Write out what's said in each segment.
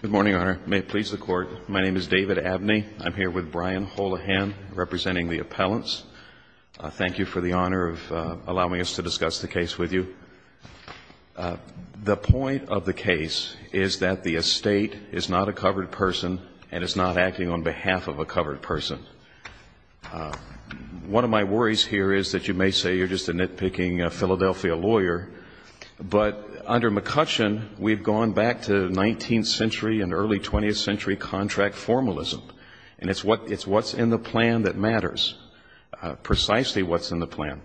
Good morning, Your Honor. May it please the Court, my name is David Abney. I'm here with Brian Holahan, representing the appellants. Thank you for the honor of allowing us to discuss the case with you. The point of the case is that the estate is not a covered person and is not acting on behalf of a covered person. One of my worries here is that you may say you're just a nitpicking Philadelphia lawyer, but under McCutcheon we've gone back to 19th century and early 20th century contract formalism. And it's what's in the plan that matters, precisely what's in the plan.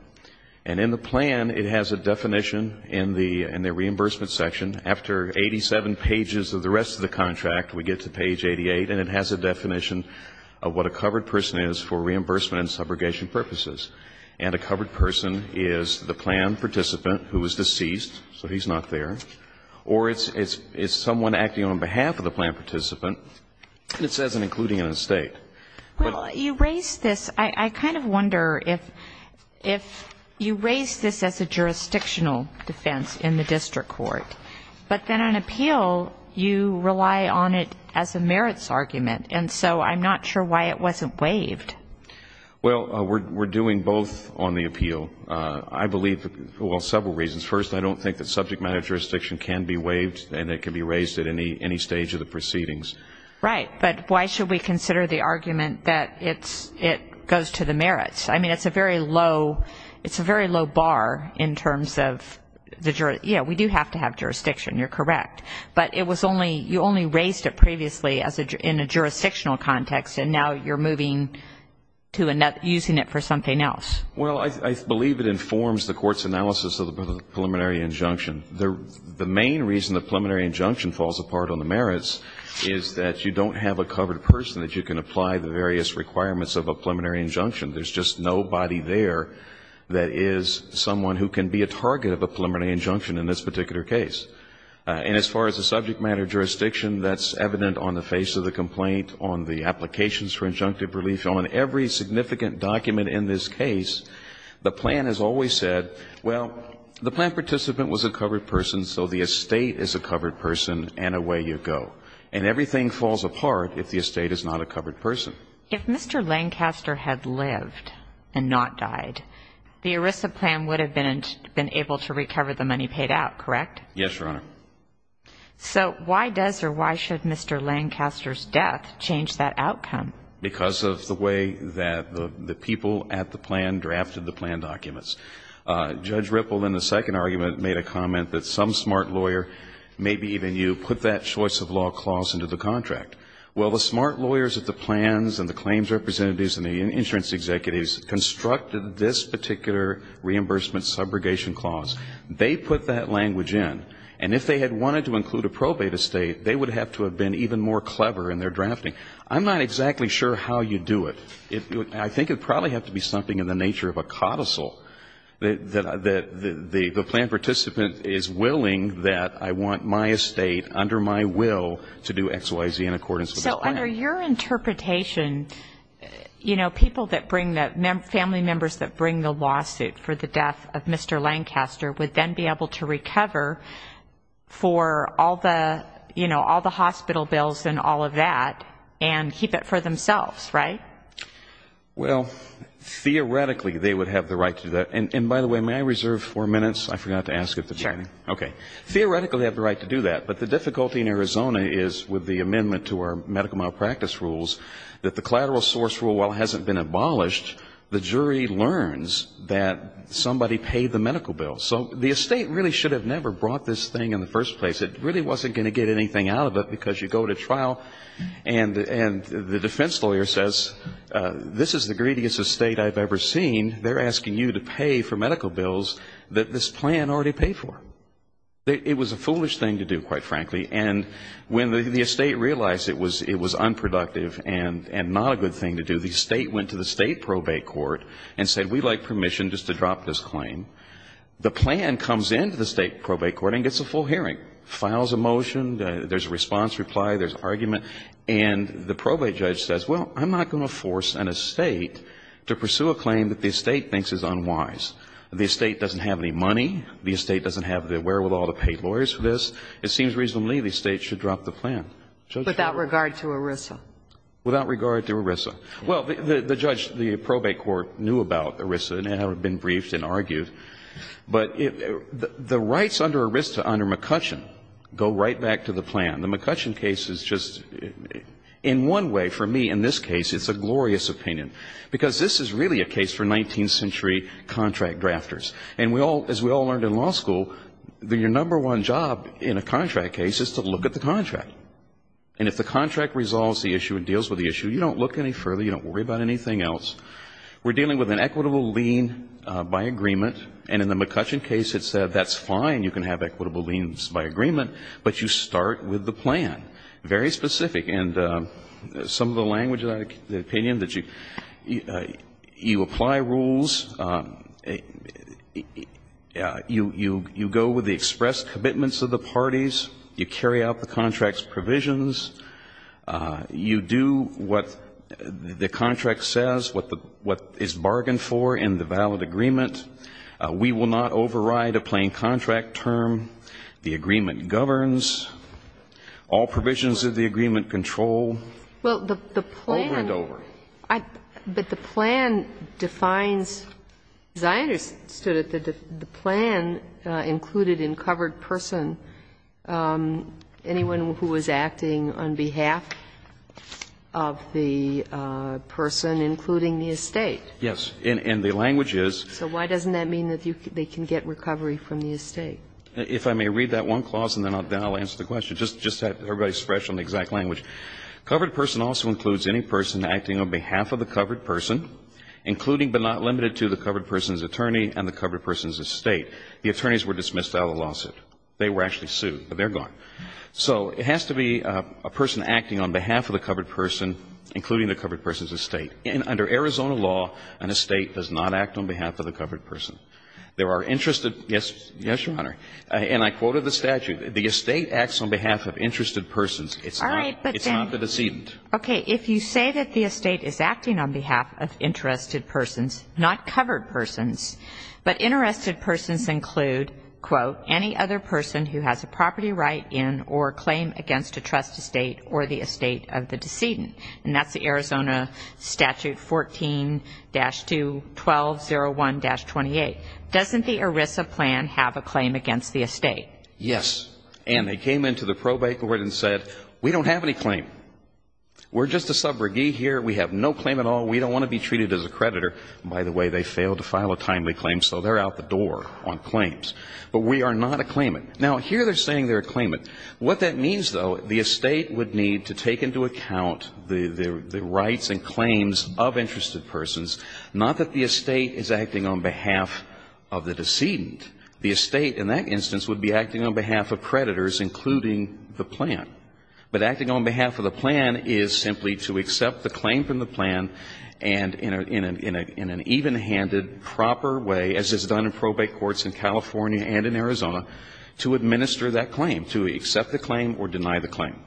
And in the plan it has a definition in the reimbursement section, after 87 pages of the rest of the contract we get to page 88, and it has a definition of what a covered person is for reimbursement and subrogation purposes. And a covered person is the plan participant who is deceased, so he's not there, or it's someone acting on behalf of the plan participant, and it says I'm including an estate. Well, you raise this, I kind of wonder if you raise this as a jurisdictional defense in the district court, but then on appeal you rely on it as a merits argument, and so I'm not sure why it wasn't waived. Well, we're doing both on the appeal. I believe, well, several reasons. First, I don't think that subject matter jurisdiction can be waived and it can be raised at any stage of the proceedings. Right, but why should we consider the argument that it goes to the merits? I mean, it's a very low bar in terms of, you know, we do have to have jurisdiction, you're correct, but you only raised it previously in a jurisdictional context, and now you're moving to using it for something else. Well, I believe it informs the court's analysis of the preliminary injunction. The main reason the preliminary injunction falls apart on the merits is that you don't have a covered person that you can apply the various requirements of a preliminary injunction. There's just nobody there that is someone who can be a target of a preliminary injunction in this particular case. And as far as the subject matter jurisdiction, that's evident on the face of the complaint, on the applications for injunctive relief, on every significant document in this case. The plan has always said, well, the plan participant was a covered person, so the estate is a covered person, and away you go. And everything falls apart if the estate is not a covered person. If Mr. Lancaster had lived and not died, the ERISA plan would have been able to recover the money paid out, correct? Yes, Your Honor. So why does or why should Mr. Lancaster's death change that outcome? Because of the way that the people at the plan drafted the plan documents. Judge Ripple in the second argument made a comment that some smart lawyer, maybe even you, put that choice of law clause into the contract. Well, the smart lawyers at the plans and the claims representatives and the insurance executives constructed this particular reimbursement subrogation clause. They put that language in. And if they had wanted to include a probate estate, they would have to have been even more clever in their drafting. I'm not exactly sure how you do it. I think it would probably have to be something in the nature of a codicil, that the plan participant is willing that I want my estate under my will to do XYZ in accordance with the plan. So under your interpretation, you know, people that bring the, family members that bring the lawsuit for the death of Mr. Lancaster would then be able to recover for all the, you know, all the hospital bills and all of that and keep it for themselves, right? Well, theoretically, they would have the right to do that. And by the way, may I reserve four minutes? I forgot to ask at the beginning. Sure. Okay. Theoretically, they have the right to do that. But the difficulty in Arizona is with the amendment to our medical malpractice rules, that the collateral source rule, while it hasn't been abolished, the jury learns that somebody paid the medical bill. So the estate really should have never brought this thing in the first place. It really wasn't going to get anything out of it, because you go to trial and the defense lawyer says, this is the greediest estate I've ever seen. They're asking you to pay for medical bills that this plan already paid for. It was a foolish thing to do, quite frankly. And when the estate realized it was unproductive and not a good thing to do, the estate went to the state probate court and said, we'd like permission just to drop this claim. The plan comes in to the state probate court and gets a full hearing, files a motion. There's a response reply. There's argument. And the probate judge says, well, I'm not going to force an estate to pursue a claim that the estate thinks is unwise. The estate doesn't have any money. The estate doesn't have the wherewithal to pay lawyers for this. It seems reasonably the estate should drop the plan. Without regard to ERISA. Without regard to ERISA. Well, the judge, the probate court, knew about ERISA and had been briefed and argued. But the rights under ERISA under McCutcheon go right back to the plan. The McCutcheon case is just, in one way for me in this case, it's a glorious opinion, because this is really a case for 19th century contract drafters. And we all, as we all learned in law school, your number one job in a contract case is to look at the contract. And if the contract resolves the issue and deals with the issue, you don't look any further. You don't worry about anything else. We're dealing with an equitable lien by agreement. And in the McCutcheon case it said that's fine, you can have equitable liens by agreement, but you start with the plan. Very specific. And some of the language of that opinion, that you apply rules, you go with the expressed commitments of the parties, you carry out the contract's provisions, you do what the contract says, what is bargained for in the valid agreement. We will not override a plain contract term. The agreement governs. All provisions of the agreement control. Over and over. But the plan defines, as I understood it, the plan included in covered person anyone who was acting on behalf of the person, including the estate. Yes. And the language is. So why doesn't that mean that they can get recovery from the estate? If I may read that one clause and then I'll answer the question. Just to have everybody's expression on the exact language. Covered person also includes any person acting on behalf of the covered person, including but not limited to the covered person's attorney and the covered person's estate. The attorneys were dismissed out of the lawsuit. They were actually sued, but they're gone. So it has to be a person acting on behalf of the covered person, including the covered person's estate. Under Arizona law, an estate does not act on behalf of the covered person. There are interested. Yes, Your Honor. And I quoted the statute. The estate acts on behalf of interested persons. It's not the decedent. Okay. If you say that the estate is acting on behalf of interested persons, not covered persons, but interested persons include, quote, any other person who has a property right in or claim against a trust estate or the estate of the decedent. And that's the Arizona statute 14-2-1201-28. Doesn't the ERISA plan have a claim against the estate? Yes. And they came into the probate court and said, we don't have any claim. We're just a subrogee here. We have no claim at all. We don't want to be treated as a creditor. By the way, they failed to file a timely claim, so they're out the door on claims. But we are not a claimant. Now, here they're saying they're a claimant. What that means, though, the estate would need to take into account the rights and claims of interested persons, not that the estate is acting on behalf of the decedent. The estate in that instance would be acting on behalf of creditors, including the plan. But acting on behalf of the plan is simply to accept the claim from the plan and in an evenhanded, proper way, as is done in probate courts in California and in Arizona, to administer that claim, to accept the claim or deny the claim.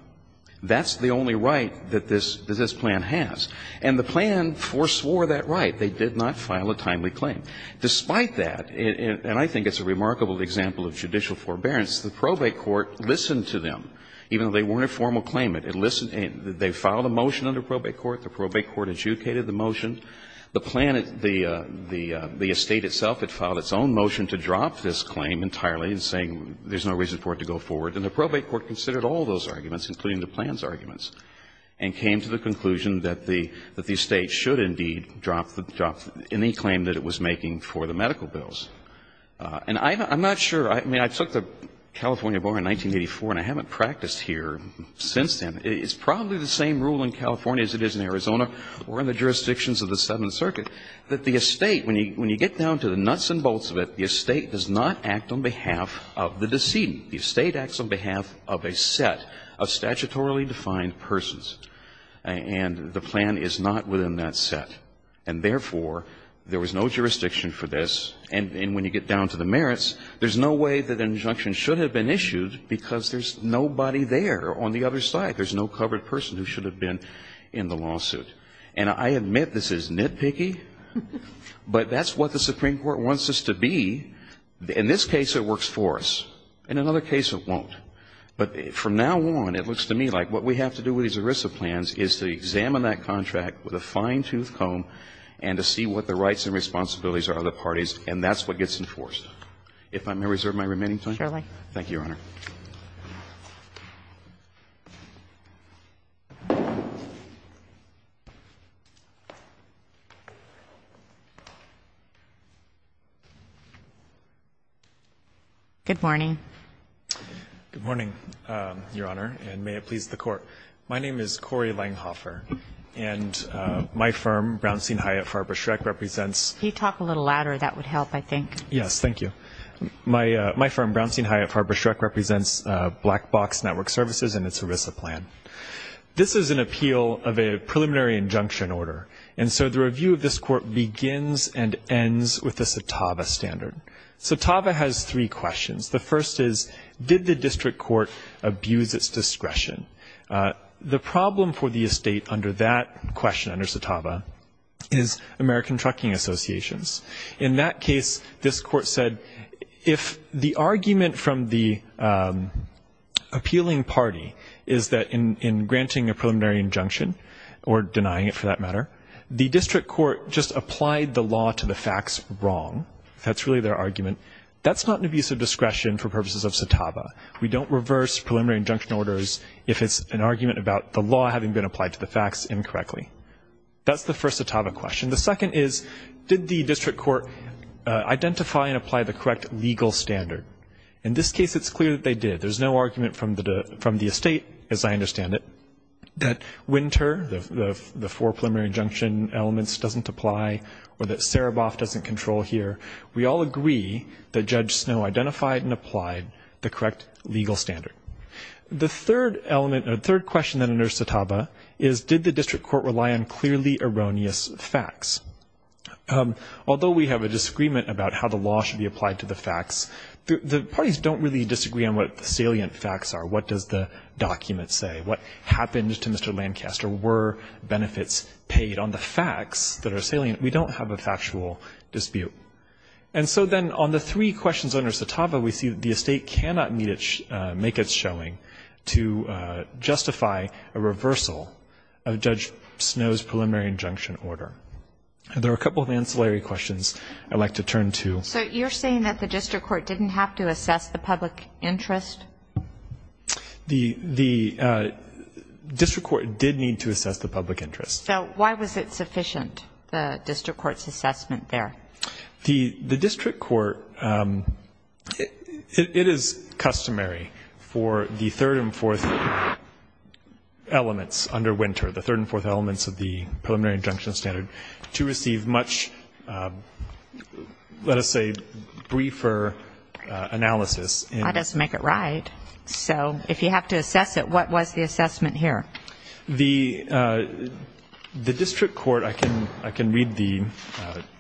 That's the only right that this plan has. And the plan foreswore that right. They did not file a timely claim. Despite that, and I think it's a remarkable example of judicial forbearance, the probate court listened to them, even though they weren't a formal claimant. It listened. They filed a motion under probate court. The probate court adjudicated the motion. The plan, the estate itself, it filed its own motion to drop this claim entirely and saying there's no reason for it to go forward. And the probate court considered all those arguments, including the plan's arguments, and came to the conclusion that the estate should indeed drop any claim that it was making for the medical bills. And I'm not sure. I mean, I took the California bar in 1984, and I haven't practiced here since then. It's probably the same rule in California as it is in Arizona or in the jurisdictions of the Seventh Circuit that the estate, when you get down to the nuts and bolts of it, the estate does not act on behalf of the decedent. The estate acts on behalf of a set of statutorily defined persons. And the plan is not within that set. And therefore, there was no jurisdiction for this. And when you get down to the merits, there's no way that an injunction should have been issued because there's nobody there on the other side. There's no covered person who should have been in the lawsuit. And I admit this is nitpicky, but that's what the Supreme Court wants us to be. In this case, it works for us. In another case, it won't. But from now on, it looks to me like what we have to do with these ERISA plans is to examine that contract with a fine-toothed comb and to see what the rights and responsibilities are of the parties, and that's what gets enforced. Kagan. Thank you, Your Honor. Good morning. Good morning, Your Honor, and may it please the Court. My name is Corey Langhofer, and my firm, Brownstein Hyatt Farber Schreck, represents Can you talk a little louder? That would help, I think. Yes, thank you. My firm, Brownstein Hyatt Farber Schreck, represents Black Box Network Services and its ERISA plan. This is an appeal of a preliminary injunction order, and so the review of this court begins and ends with the Satava standard. Satava has three questions. The first is, did the district court abuse its discretion? The problem for the estate under that question, under Satava, is American Trucking Associations. In that case, this court said, if the argument from the appealing party is that in granting a preliminary injunction, or denying it for that matter, the district court just applied the law to the facts wrong. That's really their argument. That's not an abuse of discretion for purposes of Satava. We don't reverse preliminary injunction orders if it's an argument about the law having been applied to the facts incorrectly. That's the first Satava question. The second is, did the district court identify and apply the correct legal standard? In this case, it's clear that they did. There's no argument from the estate, as I understand it, that Winter, the four preliminary injunction elements, doesn't apply, or that Sereboff doesn't control here. We all agree that Judge Snow identified and applied the correct legal standard. The third element, the third question under Satava, is did the district court rely on clearly erroneous facts? Although we have a disagreement about how the law should be applied to the facts, the parties don't really disagree on what the salient facts are. What does the document say? What happened to Mr. Lancaster? Were benefits paid on the facts that are salient? We don't have a factual dispute. And so then on the three questions under Satava, we see that the estate cannot make its showing to justify a reversal of Judge Snow's preliminary injunction order. There are a couple of ancillary questions I'd like to turn to. So you're saying that the district court didn't have to assess the public interest? The district court did need to assess the public interest. So why was it sufficient, the district court's assessment there? The district court, it is customary for the third and fourth elements under Winter, the third and fourth elements of the preliminary injunction standard, to receive much, let us say, briefer analysis. That doesn't make it right. So if you have to assess it, what was the assessment here? The district court, I can read the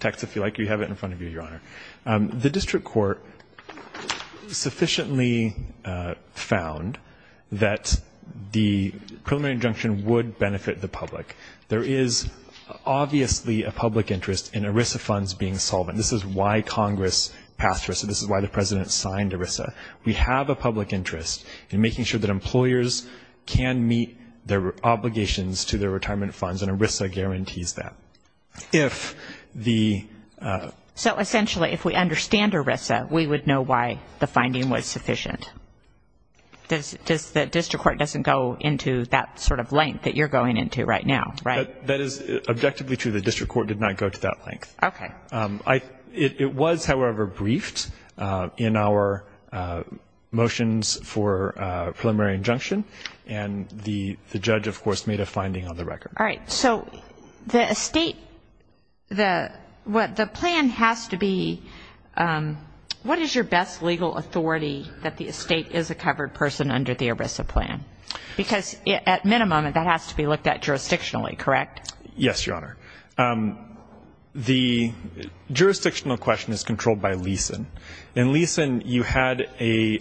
text if you like. You have it in front of you, Your Honor. The district court sufficiently found that the preliminary injunction would benefit the public. There is obviously a public interest in ERISA funds being solvent. This is why Congress passed ERISA. This is why the President signed ERISA. We have a public interest in making sure that employers can meet their obligations to their retirement funds, and ERISA guarantees that. So essentially, if we understand ERISA, we would know why the finding was sufficient. The district court doesn't go into that sort of length that you're going into right now, right? That is objectively true. The district court did not go to that length. Okay. It was, however, briefed in our motions for preliminary injunction, and the judge, of course, made a finding on the record. All right, so the estate, the plan has to be, what is your best legal authority that the estate is a covered person under the ERISA plan? Because at minimum, that has to be looked at jurisdictionally, correct? Yes, Your Honor. The jurisdictional question is controlled by Leeson. In Leeson, you had a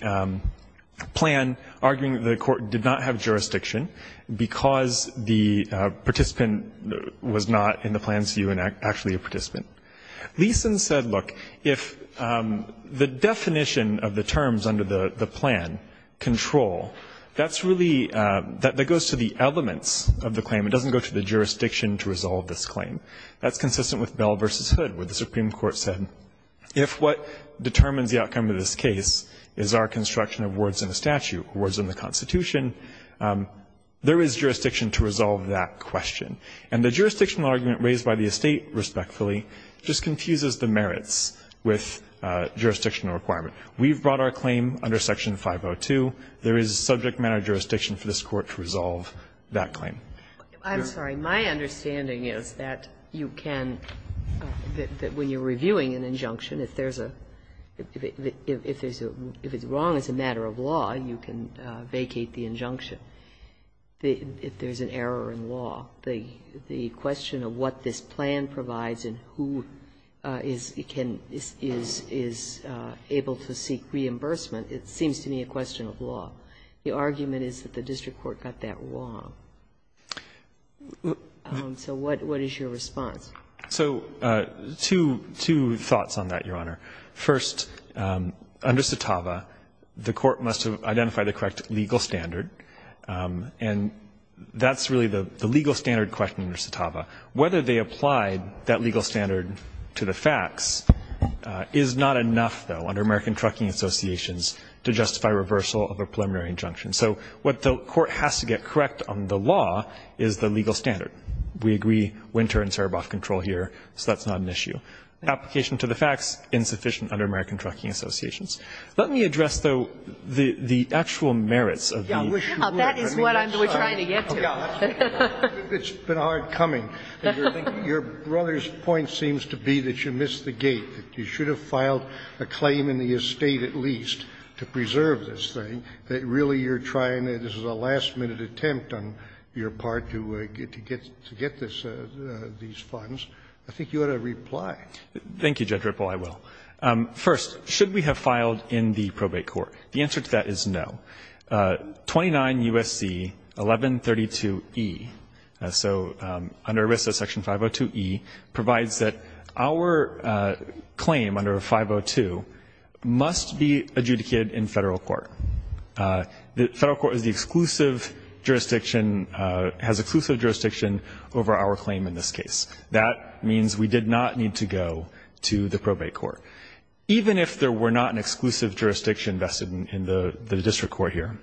plan arguing that the court did not have jurisdiction because the participant was not in the plan, so you were actually a participant. Leeson said, look, if the definition of the terms under the plan control, that's really, that goes to the elements of the claim. It doesn't go to the jurisdiction to resolve this claim. That's consistent with Bell v. Hood, where the Supreme Court said, if what determines the outcome of this case is our construction of wards in the statute, wards in the Constitution, there is jurisdiction to resolve that question. And the jurisdictional argument raised by the estate, respectfully, just confuses the merits with jurisdictional requirement. We've brought our claim under Section 502. There is subject matter jurisdiction for this court to resolve that claim. I'm sorry. My understanding is that you can, when you're reviewing an injunction, if there's a, if there's a, if it's wrong as a matter of law, you can vacate the injunction if there's an error in law. The question of what this plan provides and who is able to seek reimbursement, it seems to me a question of law. The argument is that the district court got that wrong. So what is your response? So two thoughts on that, Your Honor. First, under CITAVA, the court must have identified the correct legal standard, and that's really the legal standard question under CITAVA. Whether they applied that legal standard to the facts is not enough, though, under American Trucking Associations to justify reversal of a preliminary injunction. So what the court has to get correct on the law is the legal standard. We agree Winter and Saraboff control here, so that's not an issue. Application to the facts, insufficient under American Trucking Associations. Let me address, though, the actual merits of the issue. Sotomayor, that is what I'm trying to get to. It's been hard coming. Your brother's point seems to be that you missed the gate. You should have filed a claim in the estate at least to preserve this thing. That really you're trying, this is a last-minute attempt on your part to get these funds. I think you ought to reply. Thank you, Judge Ripple. I will. First, should we have filed in the probate court? The answer to that is no. 29 U.S.C. 1132e, so under ERISA section 502e, provides that our claim under 502 must be adjudicated in Federal court. The Federal court is the exclusive jurisdiction, has exclusive jurisdiction over our claim in this case. That means we did not need to go to the probate court. Even if there were not an exclusive jurisdiction vested in the district court here,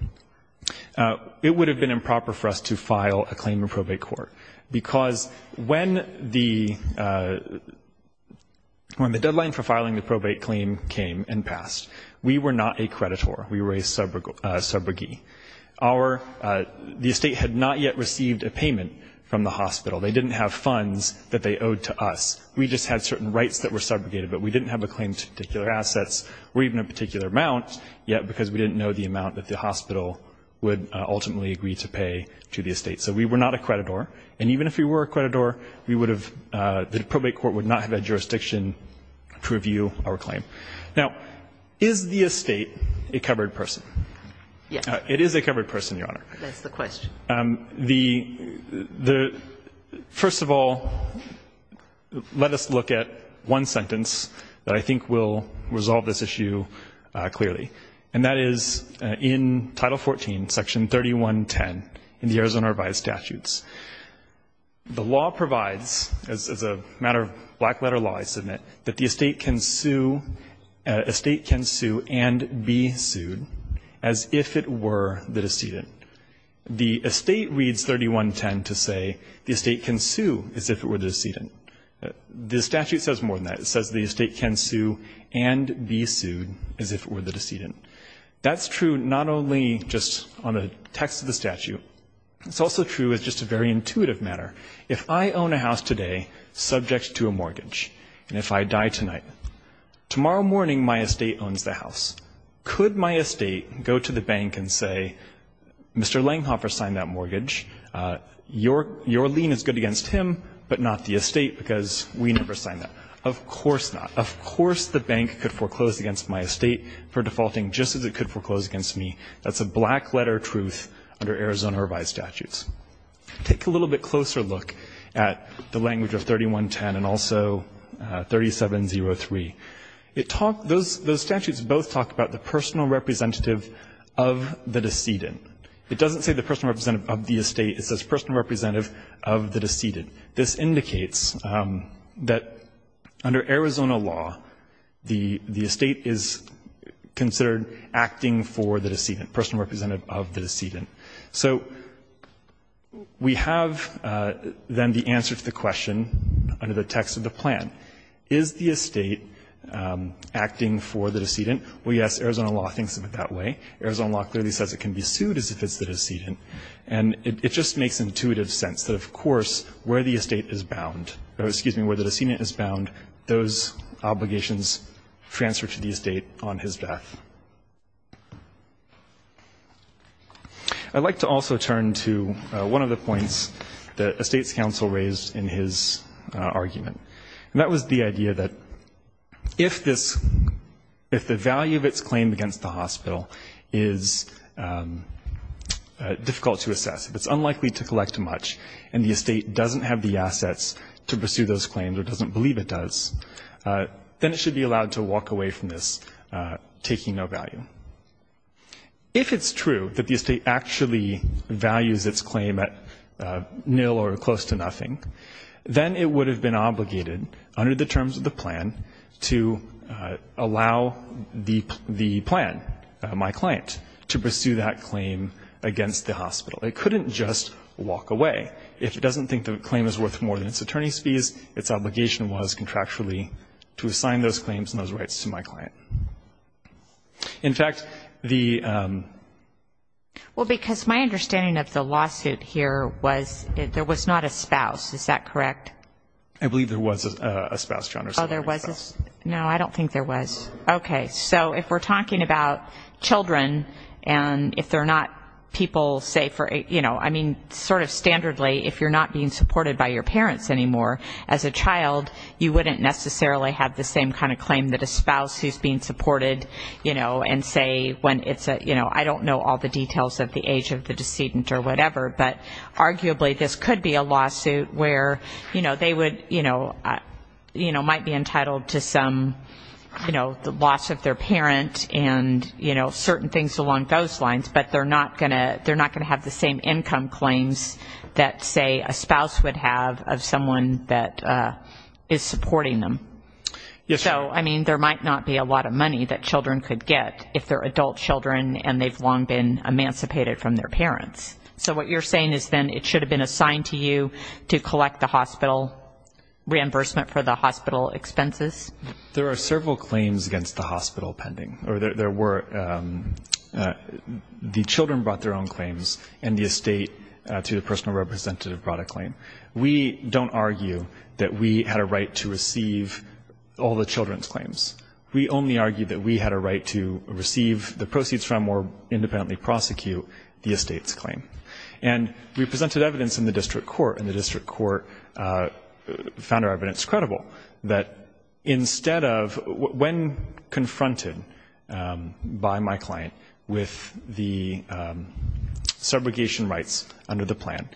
it would have been improper for us to file a claim in probate court because when the deadline for filing the probate claim came and passed, we were not a creditor. We were a subrogate. Our, the estate had not yet received a payment from the hospital. They didn't have funds that they owed to us. We just had certain rights that were subrogated, but we didn't have a claim to particular assets or even a particular amount, yet because we didn't know the amount that the hospital would ultimately agree to pay to the estate. So we were not a creditor. And even if we were a creditor, we would have, the probate court would not have had jurisdiction to review our claim. Now, is the estate a covered person? It is a covered person, Your Honor. That's the question. The, the, first of all, let us look at one sentence that I think will resolve this issue clearly, and that is in Title 14, Section 3110 in the Arizona Revised Statutes. The law provides, as a matter of black-letter law, I submit, that the estate can sue and be sued as if it were the decedent. The estate reads 3110 to say the estate can sue as if it were the decedent. The statute says more than that. It says the estate can sue and be sued as if it were the decedent. That's true not only just on the text of the statute. It's also true as just a very intuitive matter. If I own a house today subject to a mortgage, and if I die tonight, tomorrow morning my estate owns the house, could my estate go to the bank and say, Mr. Langhoffer signed that mortgage, your, your lien is good against him, but not the estate because we never signed that? Of course not. Of course the bank could foreclose against my estate for defaulting just as it could foreclose against me. That's a black-letter truth under Arizona Revised Statutes. Take a little bit closer look at the language of 3110 and also 3703. It talks, those statutes both talk about the personal representative of the decedent. It doesn't say the personal representative of the estate. It says personal representative of the decedent. This indicates that under Arizona law, the estate is considered acting for the decedent, personal representative of the decedent. So we have then the answer to the question under the text of the plan. Is the estate acting for the decedent? Well, yes, Arizona law thinks of it that way. Arizona law clearly says it can be sued as if it's the decedent, and it just makes intuitive sense that of course where the estate is bound, or excuse me, where the decedent is bound, those obligations transfer to the estate on his death. I'd like to also turn to one of the points that Estates Counsel raised in his argument. And that was the idea that if this, if the value of its claim against the hospital is difficult to assess, if it's unlikely to collect much and the estate doesn't have the assets to pursue those claims or doesn't believe it does, then it should be allowed to walk away from this taking no value. If it's true that the estate actually values its claim at nil or close to nothing, then it would have been obligated under the terms of the plan to allow the plan, my client, to pursue that claim against the hospital. It couldn't just walk away. If it doesn't think the claim is worth more than its attorney's fees, its obligation was contractually to assign those claims and those rights to my client. In fact, the ---- I believe there was a spouse, John, or something like that. No, I don't think there was. Okay. So if we're talking about children and if they're not people, say, for, you know, I mean, sort of standardly, if you're not being supported by your parents anymore as a child, you wouldn't necessarily have the same kind of claim that a spouse who's being supported, you know, and say when it's a, you know, I don't know all the details of the age of the decedent or whatever, but arguably this could be a lawsuit where, you know, they would, you know, might be entitled to some, you know, the loss of their parent and, you know, certain things along those lines, but they're not going to have the same income claims that, say, a spouse would have of someone that is supporting them. So, I mean, there might not be a lot of money that children could get if they're adult children and they've long been emancipated from their parents. So what you're saying is then it should have been assigned to you to collect the hospital reimbursement for the hospital expenses? There are several claims against the hospital pending, or there were the children brought their own claims and the estate to the personal representative brought a claim. We don't argue that we had a right to receive all the children's claims. We only argue that we had a right to receive the proceeds from or independently prosecute the estate's claim. And we presented evidence in the district court, and the district court found our evidence credible, that instead of when confronted by my client with the subrogation rights under the plan,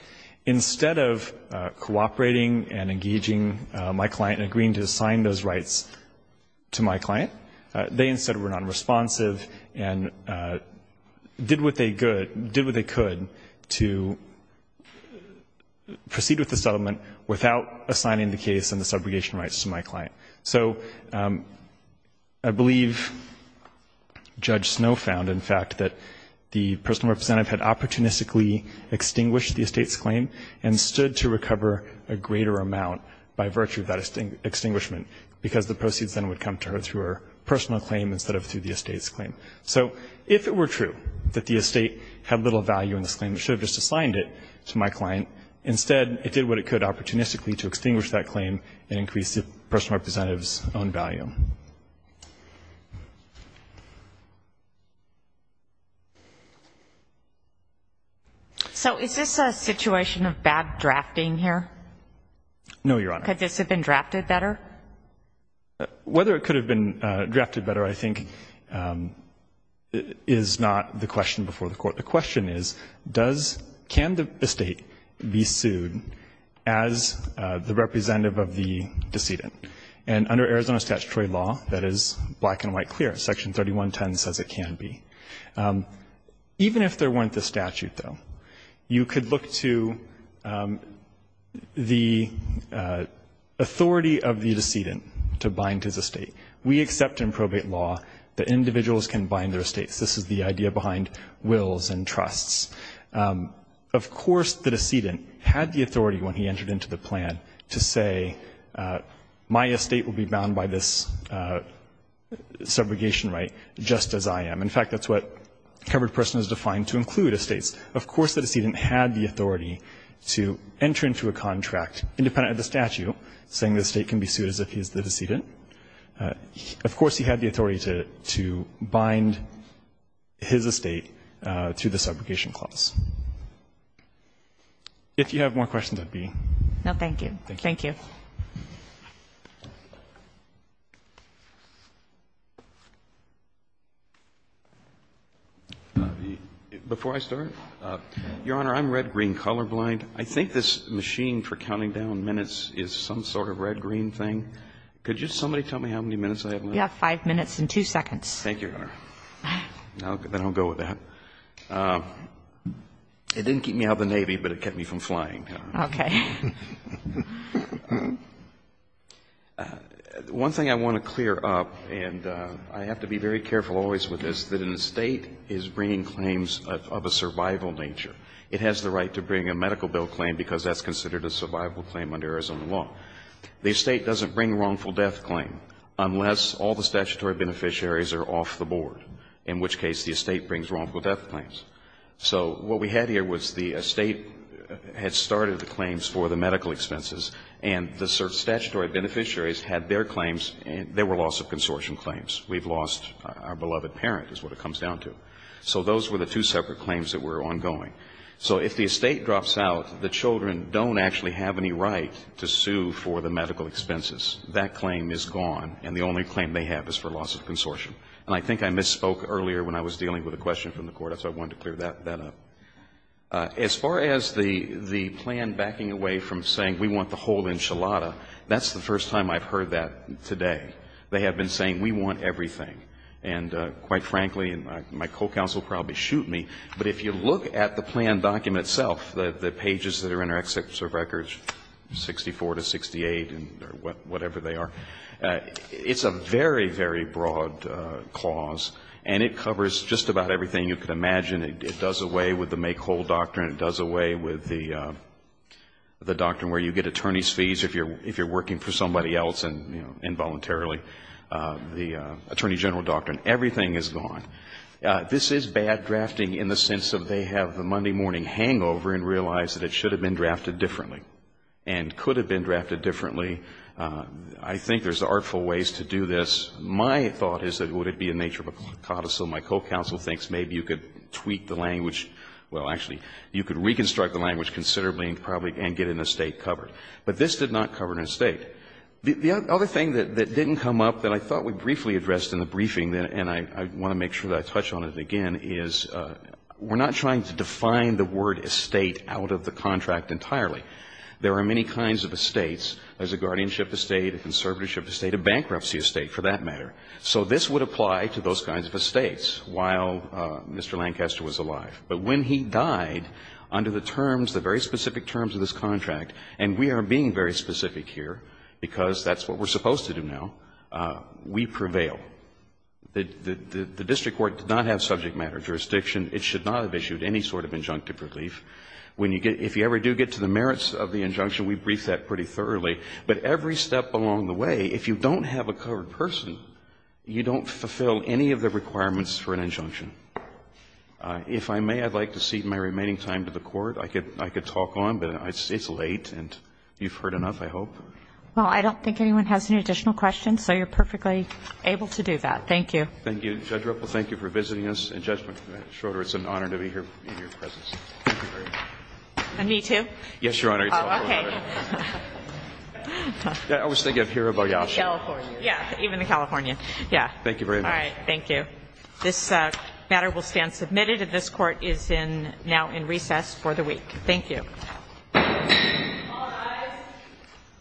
instead of cooperating and engaging my client in agreeing to sign those rights, they instead were nonresponsive and did what they could to proceed with the settlement without assigning the case and the subrogation rights to my client. So I believe Judge Snow found, in fact, that the personal representative had opportunistically extinguished the estate's claim and stood to recover a greater amount by virtue of that extinguishment, because the proceeds then would come to her through her personal claim instead of through the estate's claim. So if it were true that the estate had little value in this claim and should have just assigned it to my client, instead it did what it could opportunistically to extinguish that claim and increase the personal representative's own value. So is this a situation of bad drafting here? No, Your Honor. Could this have been drafted better? Whether it could have been drafted better, I think, is not the question before the Court. The question is, does — can the estate be sued as the representative of the decedent? And under Arizona statutory law, that is black and white clear. Section 3110 says it can be. Even if there weren't the statute, though, you could look to the authority of the decedent to bind his estate. We accept in probate law that individuals can bind their estates. This is the idea behind wills and trusts. Of course the decedent had the authority when he entered into the plan to say, my estate will be bound by this subrogation right just as I am. In fact, that's what covered person is defined to include estates. Of course the decedent had the authority to enter into a contract independent of the statute saying the estate can be sued as if he is the decedent. Of course he had the authority to bind his estate to the subrogation clause. If you have more questions, I'd be — No, thank you. Thank you. Before I start, Your Honor, I'm red-green colorblind. I think this machine for counting down minutes is some sort of red-green thing. Could just somebody tell me how many minutes I have left? You have 5 minutes and 2 seconds. Thank you, Your Honor. I'll go with that. It didn't keep me out of the Navy, but it kept me from flying. Okay. One thing I want to clear up, and I have to be very careful always with this, that an estate is bringing claims of a survival nature. It has the right to bring a medical bill claim because that's considered a survival claim under Arizona law. The estate doesn't bring wrongful death claim unless all the statutory beneficiaries are off the board, in which case the estate brings wrongful death claims. So what we had here was the estate had started the claims for the medical expenses and the statutory beneficiaries had their claims and there were loss of consortium claims. We've lost our beloved parent is what it comes down to. So those were the two separate claims that were ongoing. So if the estate drops out, the children don't actually have any right to sue for the medical expenses. That claim is gone and the only claim they have is for loss of consortium. And I think I misspoke earlier when I was dealing with a question from the Court. That's why I wanted to clear that up. As far as the plan backing away from saying we want the whole enchilada, that's the first time I've heard that today. They have been saying we want everything. And quite frankly, and my co-counsel will probably shoot me, but if you look at the plan document itself, the pages that are in our executive records, 64 to 68 or whatever they are, it's a very, very broad clause and it covers just about everything you can imagine. It does away with the make whole doctrine. It does away with the doctrine where you get attorney's fees if you're working for somebody else involuntarily. The attorney general doctrine. Everything is gone. This is bad drafting in the sense that they have the Monday morning hangover and realize that it should have been drafted differently and could have been drafted differently. I think there's artful ways to do this. My thought is that it would be in nature of a codicil. My co-counsel thinks maybe you could tweak the language, well, actually, you could reconstruct the language considerably and probably get an estate covered. But this did not cover an estate. The other thing that didn't come up that I thought we briefly addressed in the briefing and I want to make sure that I touch on it again is we're not trying to define the word estate out of the contract entirely. There are many kinds of estates. There's a guardianship estate, a conservatorship estate, a bankruptcy estate. For that matter. So this would apply to those kinds of estates while Mr. Lancaster was alive. But when he died under the terms, the very specific terms of this contract, and we are being very specific here because that's what we're supposed to do now, we prevail. The district court did not have subject matter jurisdiction. It should not have issued any sort of injunctive relief. If you ever do get to the merits of the injunction, we brief that pretty thoroughly. But every step along the way, if you don't have a covered person, you don't fulfill any of the requirements for an injunction. If I may, I'd like to cede my remaining time to the Court. I could talk on, but it's late and you've heard enough, I hope. Well, I don't think anyone has any additional questions, so you're perfectly able to do that. Thank you. Thank you, Judge Ruppel. Thank you for visiting us. And, Judge Schroeder, it's an honor to be here in your presence. Thank you very much. And me too? Yes, Your Honor. Oh, okay. I was thinking of Hirabayashi. California. Yeah, even the California. Yeah. Thank you very much. All right. Thank you. This matter will stand submitted, and this Court is now in recess for the week. Thank you.